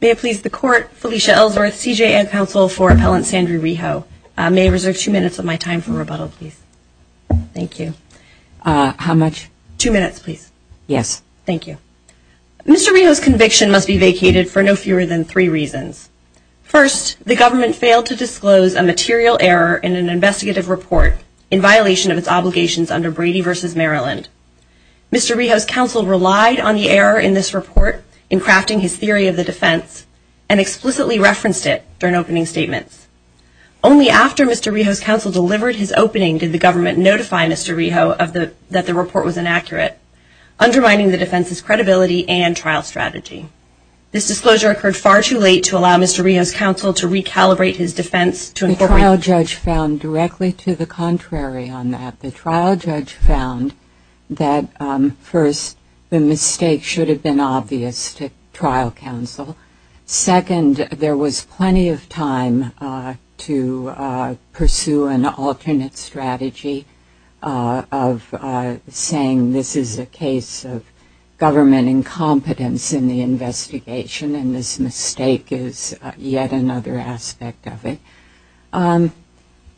May I please the court, Felicia Ellsworth, CJA counsel for appellant Sandra Rijo. May I reserve two minutes of my time for rebuttal, please. Thank you. How much? Two minutes, please. Yes. Thank you. Mr. Rijo's conviction must be vacated for no fewer than three reasons. First, the government failed to disclose a material error in an investigative report in violation of its obligations under Brady v. Maryland. Mr. Rijo's counsel relied on the error in this report in crafting his theory of the defense and explicitly referenced it during opening statements. Only after Mr. Rijo's counsel delivered his opening did the government notify Mr. Rijo that the report was inaccurate, undermining the defense's credibility and trial strategy. This disclosure occurred far too late to allow Mr. Rijo's counsel to recalibrate his defense to incorporate The trial judge found directly to the contrary on that. The trial judge found that first, the mistake should have been obvious to trial counsel. Second, there was plenty of time to pursue an alternate strategy of saying this is a case of government incompetence in the investigation and this mistake is yet another aspect of it.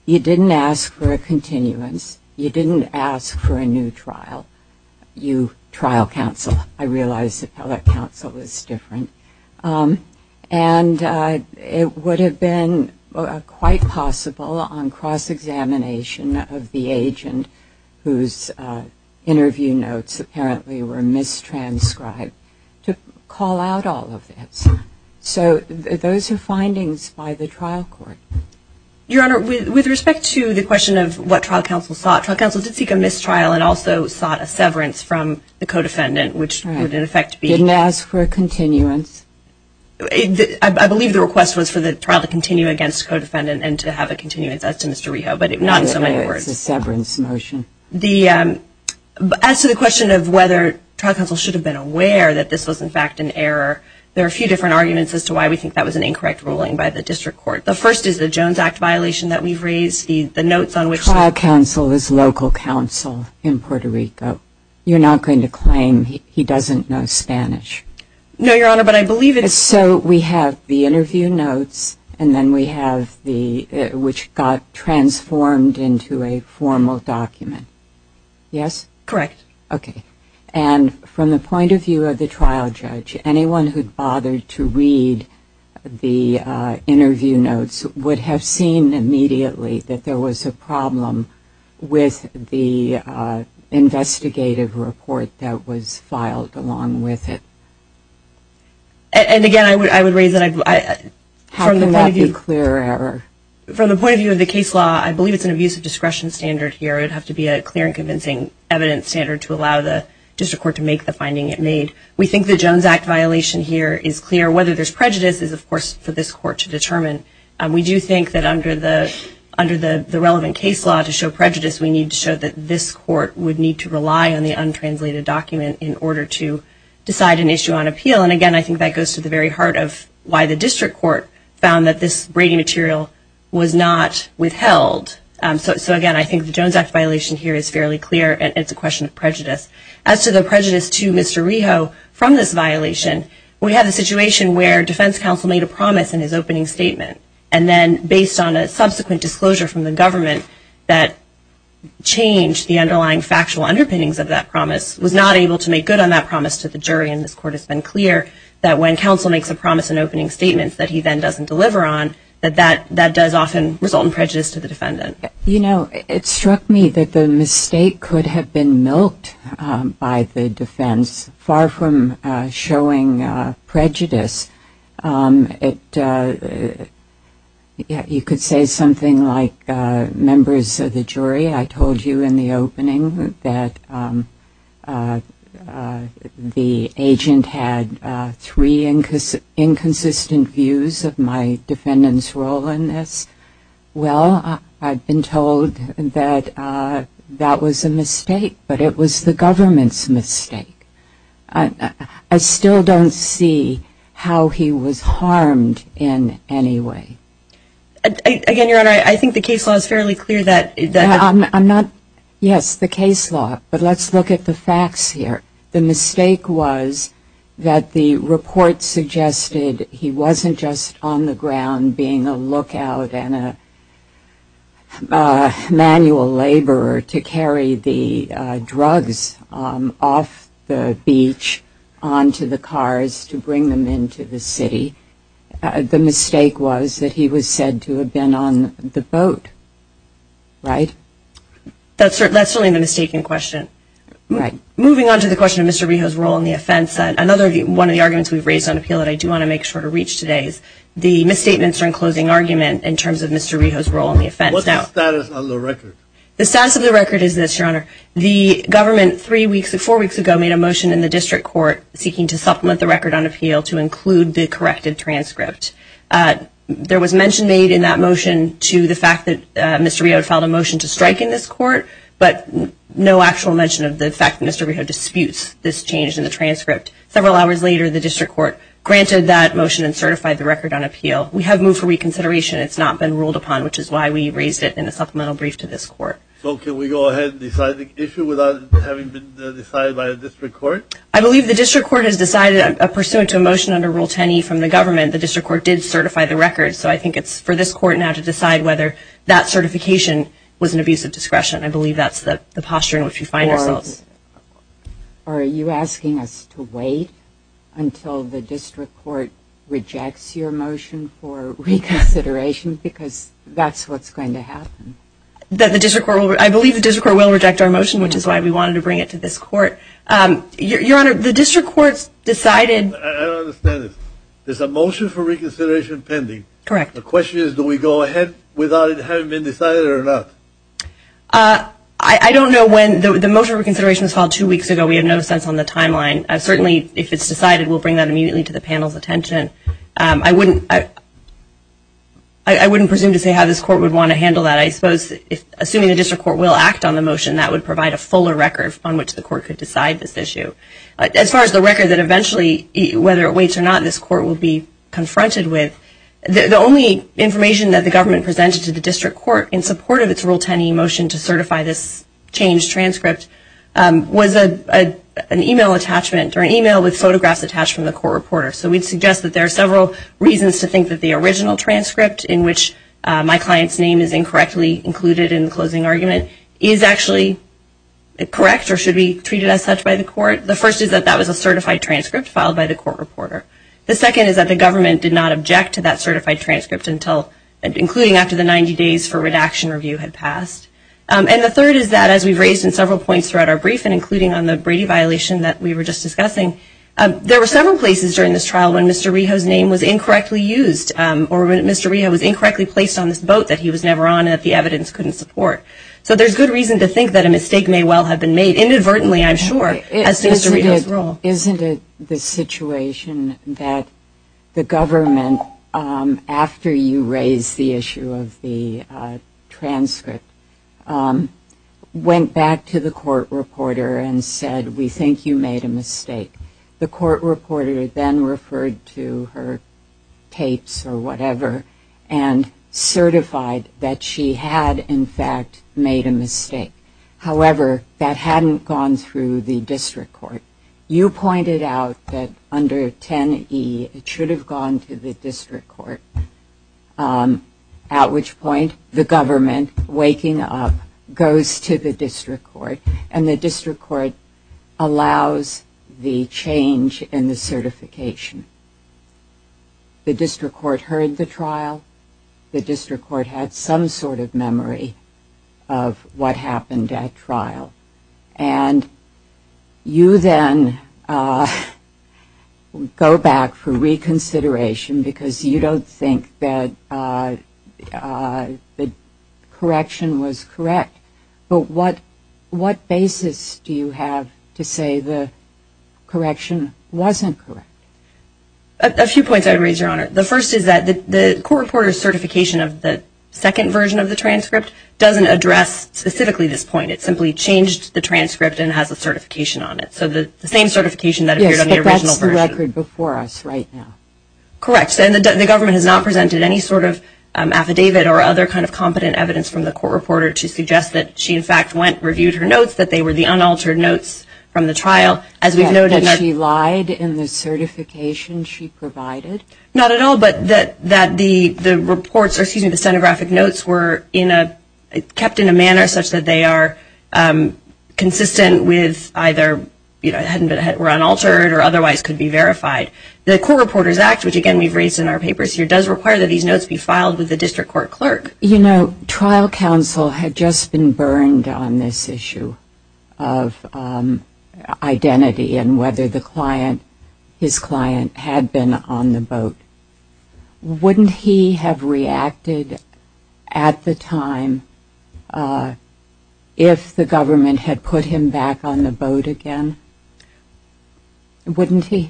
You didn't ask for a continuance. You didn't ask for a new trial. You trial counsel. I realize appellate counsel is different. And it would have been quite possible on cross-examination of the agent whose interview notes apparently were mistranscribed to call out all of this. So those are findings by the trial court. Your Honor, with respect to the question of what trial counsel sought, trial counsel did seek a mistrial and also sought a severance from the co-defendant, which would in effect be Didn't ask for a continuance. I believe the request was for the trial to continue against co-defendant and to have a continuance as to Mr. Rijo, but not in so many words. It's a severance motion. As to the question of whether trial counsel should have been aware that this was in fact an error, there are a few different arguments as to why we think that was an incorrect ruling by the district court. The first is the Jones Act violation that we've raised, the notes on which Trial counsel is local counsel in Puerto Rico. You're not going to claim he doesn't know Spanish. No, Your Honor, but I believe it is. So we have the interview notes and then we have the, which got transformed into a formal document. Yes? Correct. Okay. And from the point of view of the trial judge, anyone who bothered to read the interview notes would have seen immediately that there was a problem with the investigative report that was filed along with it. And again, I would raise that. How can that be a clear error? From the point of view of the case law, I believe it's an abuse of discretion standard here. It would have to be a clear and convincing evidence standard to allow the district court to make the finding it made. We think the Jones Act violation here is clear. Whether there's prejudice is, of course, for this court to determine. We do think that under the relevant case law to show prejudice, we need to show that this court would need to rely on the untranslated document in order to decide an issue on appeal. And again, I think that goes to the very heart of why the district court found that this Brady material was not withheld. So again, I think the Jones Act violation here is fairly clear and it's a question of prejudice. As to the prejudice to Mr. Reho from this violation, we have a situation where defense counsel made a promise in his opening statement. And then based on a subsequent disclosure from the government that changed the underlying factual underpinnings of that promise, was not able to make good on that promise to the jury. And this court has been clear that when counsel makes a promise in opening statements that he then doesn't deliver on, that that does often result in prejudice to the defendant. You know, it struck me that the mistake could have been milked by the defense, far from showing prejudice. You could say something like, members of the jury, I told you in the opening that the agent had three inconsistent views of my defendant's role in this. Well, I've been told that that was a mistake, but it was the government's mistake. I still don't see how he was harmed in any way. Again, Your Honor, I think the case law is fairly clear that... Yes, the case law, but let's look at the facts here. The mistake was that the report suggested he wasn't just on the ground being a lookout and a manual laborer to carry the drugs off the beach onto the cars to bring them into the city. The mistake was that he was said to have been on the boat, right? That's certainly a mistaken question. Moving on to the question of Mr. Reho's role in the offense, another one of the arguments we've raised on appeal that I do want to make sure to reach today is the misstatements during closing argument in terms of Mr. Reho's role in the offense. What's the status of the record? The status of the record is this, Your Honor. The government three weeks or four weeks ago made a motion in the district court seeking to supplement the record on appeal to include the corrected transcript. There was mention made in that motion to the fact that Mr. Reho had filed a motion to strike in this court, but no actual mention of the fact that Mr. Reho disputes this change in the transcript. Several hours later, the district court granted that motion and certified the record on appeal. We have moved for reconsideration. It's not been ruled upon, which is why we raised it in a supplemental brief to this court. So can we go ahead and decide the issue without having been decided by the district court? I believe the district court has decided pursuant to a motion under Rule 10E from the government, the district court did certify the record. So I think it's for this court now to decide whether that certification was an abuse of discretion. I believe that's the posture in which we find ourselves. Are you asking us to wait until the district court rejects your motion for reconsideration? Because that's what's going to happen. I believe the district court will reject our motion, which is why we wanted to bring it to this court. I don't understand this. There's a motion for reconsideration pending. The question is do we go ahead without it having been decided or not? I don't know when. The motion for reconsideration was filed two weeks ago. We have no sense on the timeline. Certainly if it's decided, we'll bring that immediately to the panel's attention. I wouldn't presume to say how this court would want to handle that. Assuming the district court will act on the motion, that would provide a fuller record on which the court could decide this issue. As far as the record that eventually, whether it waits or not, this court will be confronted with, the only information that the government presented to the district court in support of its Rule 10E motion to certify this changed transcript was an email attachment or an email with photographs attached from the court reporter. So we'd suggest that there are several reasons to think that the original transcript in which my client's name is incorrectly included in the closing argument is actually correct or should be treated as such by the court. The first is that that was a certified transcript filed by the court reporter. The second is that the government did not object to that certified transcript until, including after the 90 days for redaction review had passed. And the third is that, as we've raised in several points throughout our briefing, including on the Brady violation that we were just discussing, there were several places during this trial when Mr. Reho's name was incorrectly used or when Mr. Reho was incorrectly placed on this boat that he was never on and that the evidence couldn't support. So there's good reason to think that a mistake may well have been made. Inadvertently, I'm sure, as to Mr. Reho's role. Isn't it the situation that the government, after you raised the issue of the transcript, went back to the court reporter and said, we think you made a mistake? The court reporter then referred to her tapes or whatever and certified that she had, in fact, made a mistake. However, that hadn't gone through the district court. You pointed out that under 10E, it should have gone to the district court, at which point the government, waking up, goes to the district court and the district court allows the change in the certification. The district court heard the trial. The district court had some sort of memory of what happened at trial. And you then go back for reconsideration because you don't think that the correction was correct. But what basis do you have to say the correction wasn't correct? A few points I would raise, Your Honor. The first is that the court reporter's certification of the second version of the transcript doesn't address specifically this point. It simply changed the transcript and has a certification on it. Yes, but that's the record before us right now. Correct. And the government has not presented any sort of affidavit or other kind of competent evidence from the court reporter to suggest that she, in fact, reviewed her notes, that they were the unaltered notes from the trial. That she lied in the certification she provided? Not at all, but that the stenographic notes were kept in a manner such that they are consistent with either, were unaltered or otherwise could be verified. The Court Reporters Act, which again we've raised in our papers here, does require that these notes be filed with the district court clerk. You know, trial counsel had just been burned on this issue of identity and whether the client, his client, had been on the boat. Wouldn't he have reacted at the time if the government had put him back on the boat again? Wouldn't he?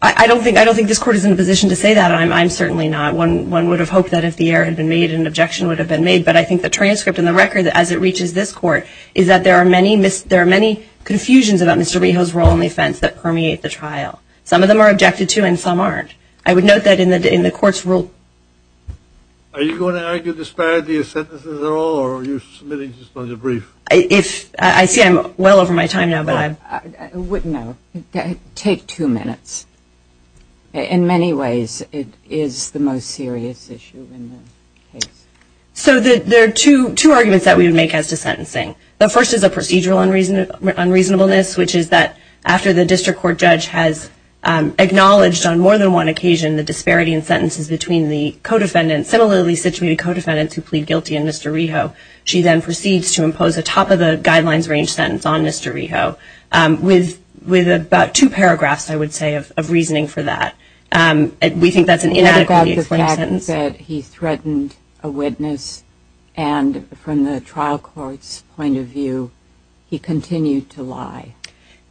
I don't think this court is in a position to say that. I'm certainly not. One would have hoped that if the error had been made an objection would have been made, but I think the transcript and the record as it reaches this court is that there are many confusions about Mr. Reho's role in the offense that permeate the trial. Some of them are objected to and some aren't. I would note that in the court's rule... Are you going to argue disparity of sentences at all or are you submitting just on the brief? I see I'm well over my time now. Take two minutes. In many ways it is the most serious issue in the case. So there are two arguments that we would make as to sentencing. The first is a procedural unreasonableness, which is that after the district court judge has found a disparity in sentences between the co-defendants, similarly situated co-defendants who plead guilty in Mr. Reho, she then proceeds to impose a top-of-the-guidelines range sentence on Mr. Reho with about two paragraphs I would say of reasoning for that. We think that's an inadequately framed sentence. He threatened a witness and from the trial court's point of view he continued to lie.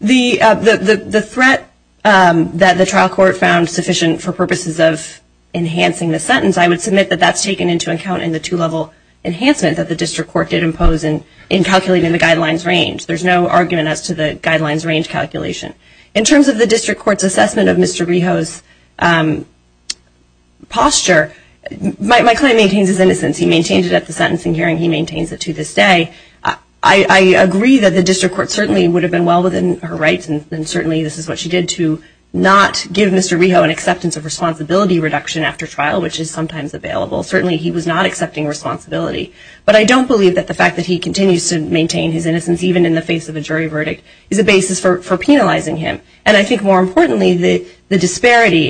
The threat that the trial court found sufficient for purposes of enhancing the sentence, I would submit that that's taken into account in the two-level enhancement that the district court did impose in calculating the guidelines range. There's no argument as to the guidelines range calculation. In terms of the district court's assessment of Mr. Reho's posture my client maintains his innocence. He maintains it at the sentencing hearing. He maintains it to this day. I agree that the district court certainly would have been well within her rights, and certainly this is what she did, to not give Mr. Reho an acceptance of responsibility reduction after trial, which is sometimes available. Certainly he was not accepting responsibility. But I don't believe that the fact that he continues to maintain his innocence, even in the face of a jury verdict, is a basis for penalizing him. And I think more importantly, the disparity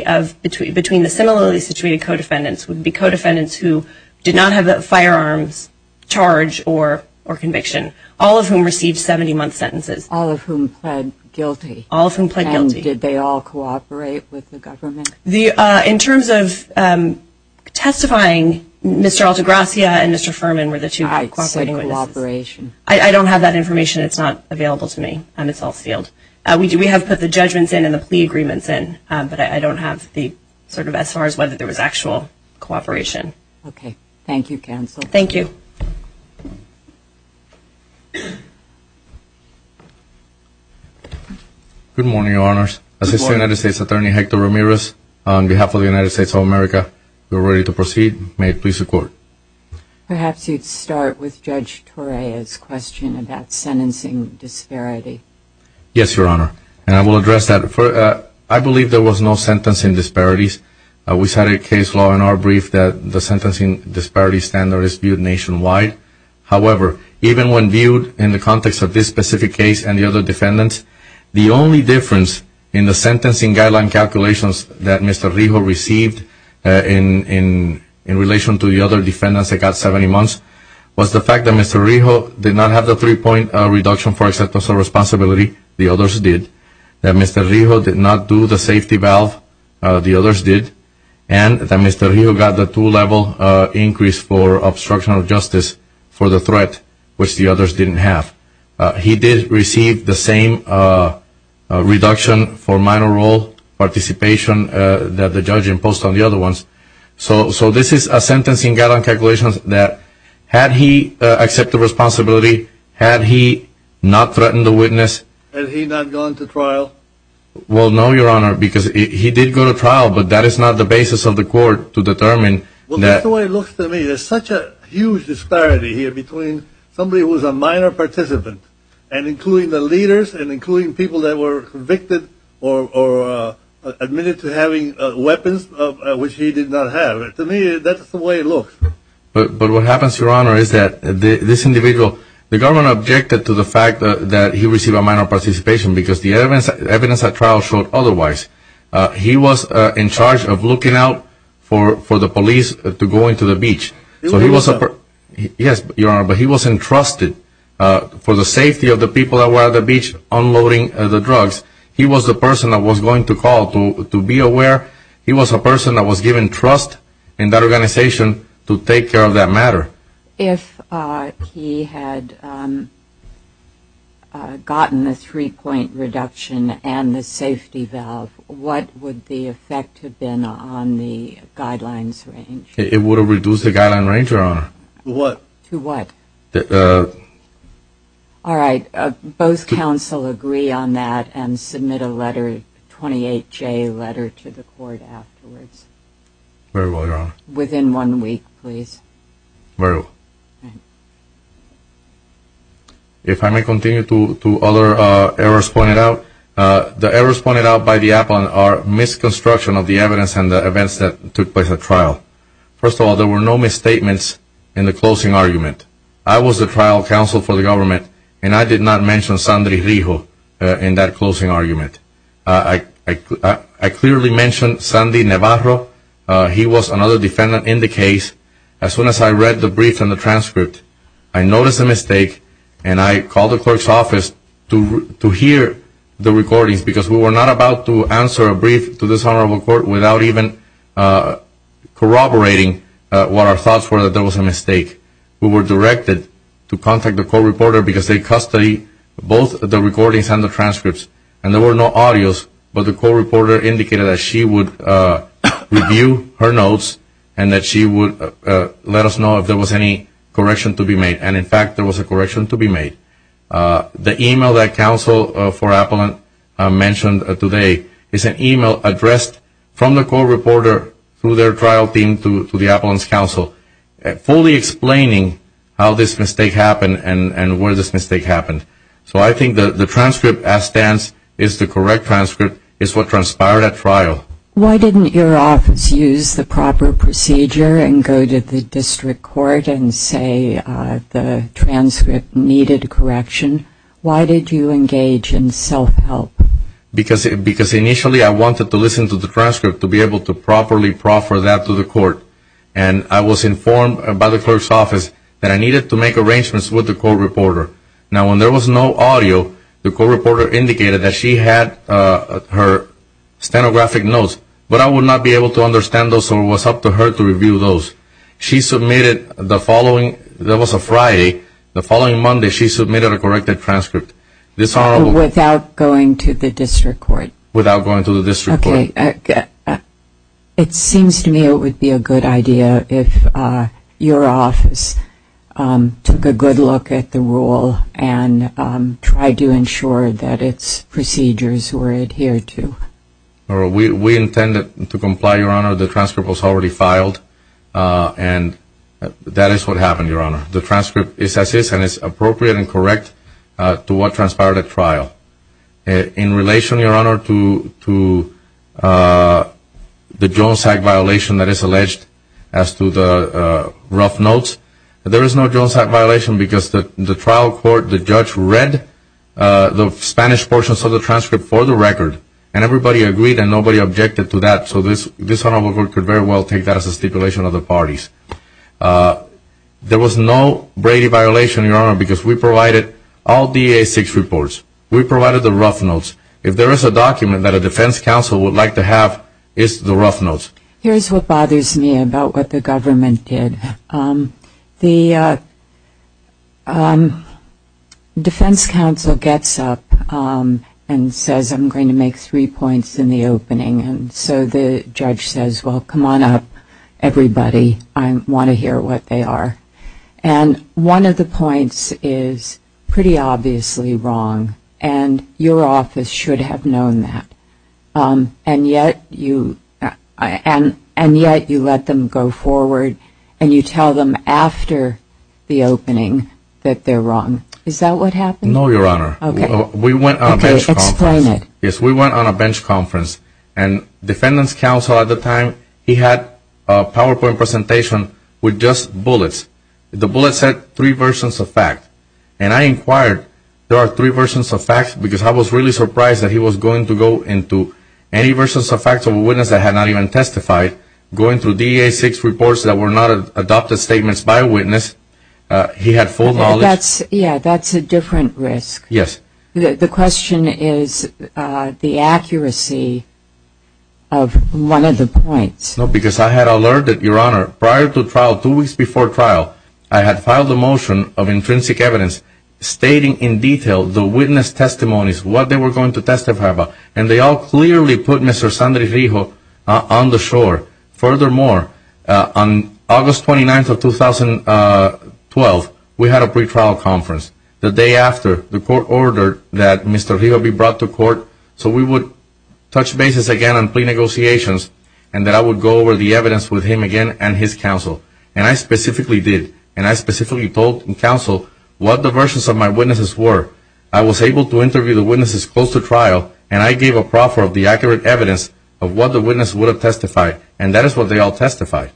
between the similarly situated co-defendants would be co-defendants who did not have firearms charge or conviction, all of whom received 70-month sentences. All of whom pled guilty. All of whom pled guilty. And did they all cooperate with the government? In terms of testifying, Mr. Altagracia and Mr. Fuhrman were the two who cooperated. I don't have that information. It's not available to me. It's all sealed. We have put the judgments in and the plea agreements in, but I don't have sort of as far as whether there was actual cooperation. Okay. Thank you, Counsel. Thank you. Good morning, Your Honors. Assistant United States Attorney Hector Ramirez, on behalf of the United States of America, we are ready to proceed. May it please the Court. Perhaps you'd start with Judge Torea's question about sentencing disparity. Yes, Your Honor. And I will address that. I believe there was no sentencing disparities. We cited case law in our brief that the sentencing disparity standard is viewed nationwide. However, even when viewed in the context of this specific case and the other defendants, the only difference in the sentencing guideline calculations that Mr. Rijo received in relation to the other defendants that got 70 months was the fact that Mr. Rijo did not have the three-point reduction for acceptance of responsibility. The others did. That Mr. Rijo did not do the safety valve. The others did. And that Mr. Rijo got the two-level increase for obstruction of justice for the threat, which the others didn't have. He did receive the same reduction for minor role participation that the judge imposed on the other ones. So this is a sentencing guideline calculation that had he accepted responsibility, had he not threatened the witness... Had he not gone to trial? Well, no, Your Honor, because he did go to trial, but that is not the basis of the Court to determine that... There is a huge disparity here between somebody who is a minor participant and including the leaders and including people that were convicted or admitted to having weapons which he did not have. To me, that's the way it looks. But what happens, Your Honor, is that this individual, the government objected to the fact that he received a minor participation because the evidence at trial showed otherwise. He was in charge of looking out for the police to go into the beach. Yes, Your Honor, but he was entrusted for the safety of the people that were at the beach unloading the drugs. He was the person that was going to call to be aware. He was a person that was given trust in that organization to take care of that matter. If he had gotten the three-point reduction and the safety valve, what would the effect have been on the guidelines range? It would have reduced the guidelines range, Your Honor. To what? To what? Both counsel agree on that and submit a letter, a 28-J letter to the Court afterwards. Very well, Your Honor. Within one week, please. Very well. If I may continue to other errors pointed out, the errors pointed out by the appellant are the misconstruction of the evidence and the events that took place at trial. First of all, there were no misstatements in the closing argument. I was the trial counsel for the government, and I did not mention Sandy Rijo in that closing argument. I clearly mentioned Sandy Navarro. He was another defendant in the case. As soon as I read the brief and the transcript, I noticed a mistake and I called the clerk's office to hear the recordings because we were not about to answer a brief to this Honorable Court without even corroborating what our thoughts were that there was a mistake. We were directed to contact the court reporter because they custody both the recordings and the transcripts, and there were no audios, but the court reporter indicated that she would review her notes and that she would let us know if there was any correction to be made, and in fact, there was a correction to be made. The email that the trial counsel for Apollon mentioned today is an email addressed from the court reporter through their trial team to the Apollon's counsel, fully explaining how this mistake happened and where this mistake happened. So I think the transcript as stands is the correct transcript. It's what transpired at trial. Why didn't your office use the proper procedure and go to the district court and say the transcript needed correction? Why did you engage in self-help? Because initially I wanted to listen to the transcript to be able to properly proffer that to the court, and I was informed by the clerk's office that I needed to make arrangements with the court reporter. Now when there was no audio, the court reporter indicated that she had her stenographic notes, but I would not be able to understand those, so it was up to me to submit a corrected transcript. Without going to the district court? It seems to me it would be a good idea if your office took a good look at the rule and tried to ensure that its procedures were adhered to. We intended to comply, Your Honor. The transcript was already as is and is appropriate and correct to what transpired at trial. In relation, Your Honor, to the Jones Act violation that is alleged as to the rough notes, there is no Jones Act violation because the trial court, the judge, read the Spanish portions of the transcript for the record, and everybody agreed and nobody objected to that, so this Honorable Court could very well take that as a stipulation of the parties. There was no Brady violation, Your Honor, because we provided all DA6 reports. We provided the rough notes. If there is a document that a defense counsel would like to have, it's the rough notes. Here's what bothers me about what the government did. The defense counsel gets up and says, I'm going to make three points in the opening, and so the judge says, well, come on up, everybody, I want to hear what they are, and one of the points is pretty obviously wrong, and your office should have known that, and yet you let them go forward and you tell them after the opening that they're wrong. Is that what happened? No, Your Honor. Okay. We went on a bench conference. Explain it. Yes, we went on a bench conference, and we had a PowerPoint presentation with just bullets. The bullets said three versions of facts, and I inquired, there are three versions of facts, because I was really surprised that he was going to go into any versions of facts of a witness that had not even testified, going through DA6 reports that were not adopted statements by a witness. He had full knowledge. Yeah, that's a different risk. Yes. The question is the accuracy of one of the points. No, because I had alerted, Your Honor, prior to trial, two weeks before trial, I had filed a motion of intrinsic evidence stating in detail the witness testimonies, what they were going to testify about, and they all clearly put Mr. Sandra Rijo on the shore. Furthermore, on August 29th of 2012, we had a pretrial conference. The day after, the court ordered that Mr. Rijo be brought to court so we would touch bases again on plea negotiations, and that I would go over the evidence with him again and his counsel, and I specifically did, and I specifically told counsel what the versions of my witnesses were. I was able to interview the witnesses close to trial, and I gave a proffer of the accurate evidence of what the witness would have testified, and that is what they all testified.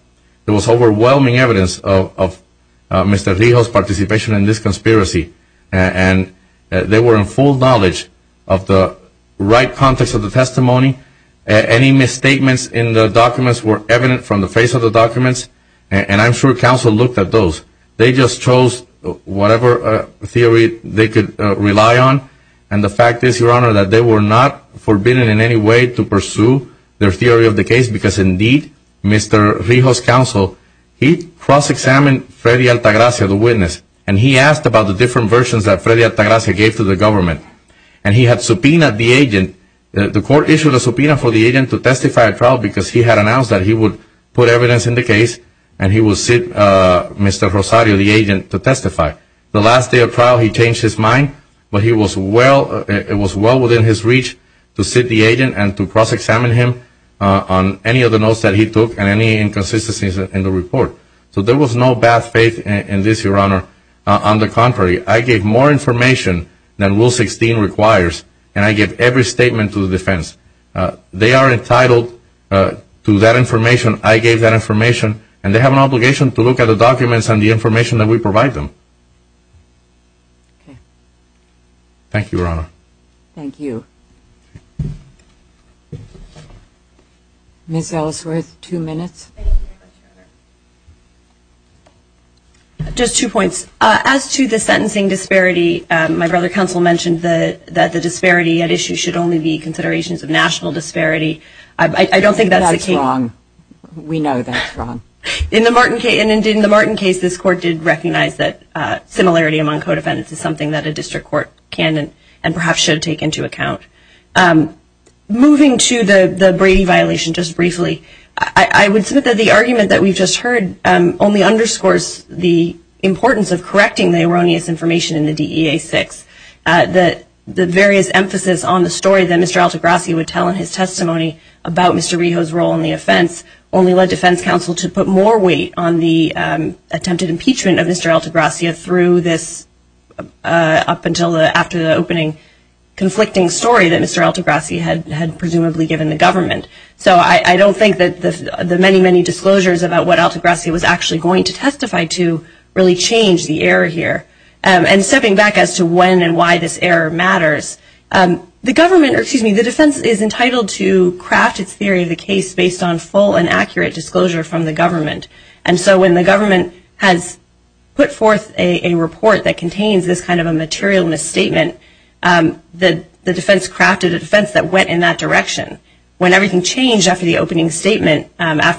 There was overwhelming evidence of Mr. Rijo's participation in this conspiracy, and they were in full knowledge of the right context of the testimony. Any misstatements in the documents were evident from the face of the documents, and I'm sure counsel looked at those. They just chose whatever theory they could rely on, and the fact is, Your Honor, that they were not forbidden in any way to pursue their theory of the case, because indeed, Mr. Rijo's counsel, he cross-examined Freddy Altagracia, the witness, and he asked about the different versions that Freddy Altagracia gave to the government, and he had subpoenaed the agent. The court issued a subpoena for the agent to testify at trial because he had announced that he would put evidence in the case, and he would sit Mr. Rosario, the agent, to testify. The last day of trial, he changed his mind, but it was well within his reach to sit the agent and to cross-examine him on any of the notes that he took and any inconsistencies in the report, so there was no bad faith in this, Your Honor. On the contrary, I gave more information than Rule 16 requires, and I gave every statement to the defense. They are entitled to that information. I gave that information, and they have an obligation to look at the documents and the information that we provide them. Thank you, Your Honor. Thank you. Ms. Ellsworth, two minutes. Just two points. As to the sentencing disparity, my brother counsel mentioned that the disparity at issue should only be considerations of national disparity. I don't think that's the case. We know that's wrong. In the Martin case, this court did recognize that similarity among co-defendants is something that a district court can and perhaps should take into account. Moving to the Brady violation just briefly, I would submit that the argument that we've just heard only underscores the importance of correcting the erroneous information in the DEA-6. The various emphasis on the story that Mr. Altagracia would tell in his testimony about Mr. Reho's role in the offense only led defense counsel to put more weight on the attempted impeachment of Mr. Altagracia through this, up until after the opening, conflicting story that Mr. Altagracia had presumably given the government. So I don't think that the many, many disclosures about what Altagracia was actually going to testify to really change the error here. And stepping back as to when and why this error matters, the defense is entitled to craft its theory of the case based on full and accurate disclosure from the government. And so when the government has put forth a report that contains this kind of a material misstatement, the defense crafted a defense that went in that direction. When everything changed after the opening statement,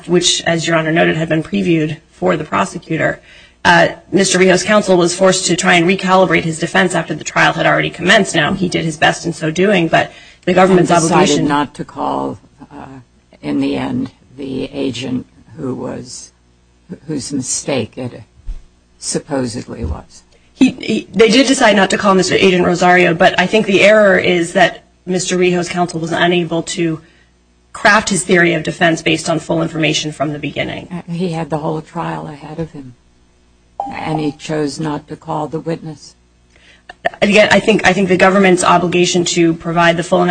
which, as Your Honor noted, had been previewed for the prosecutor, Mr. Reho's counsel was forced to try and recalibrate his defense after the trial had already commenced. Now, he did his best in so doing, but the government's obligation... They decided not to call in the end the agent whose mistake it supposedly was. They did decide not to call in Agent Rosario, but I think the error is that Mr. Reho's counsel was unable to craft his theory of defense based on full information from the beginning. He had the whole trial ahead of him, and he chose not to call the witness. Again, I think the government's obligation to provide the full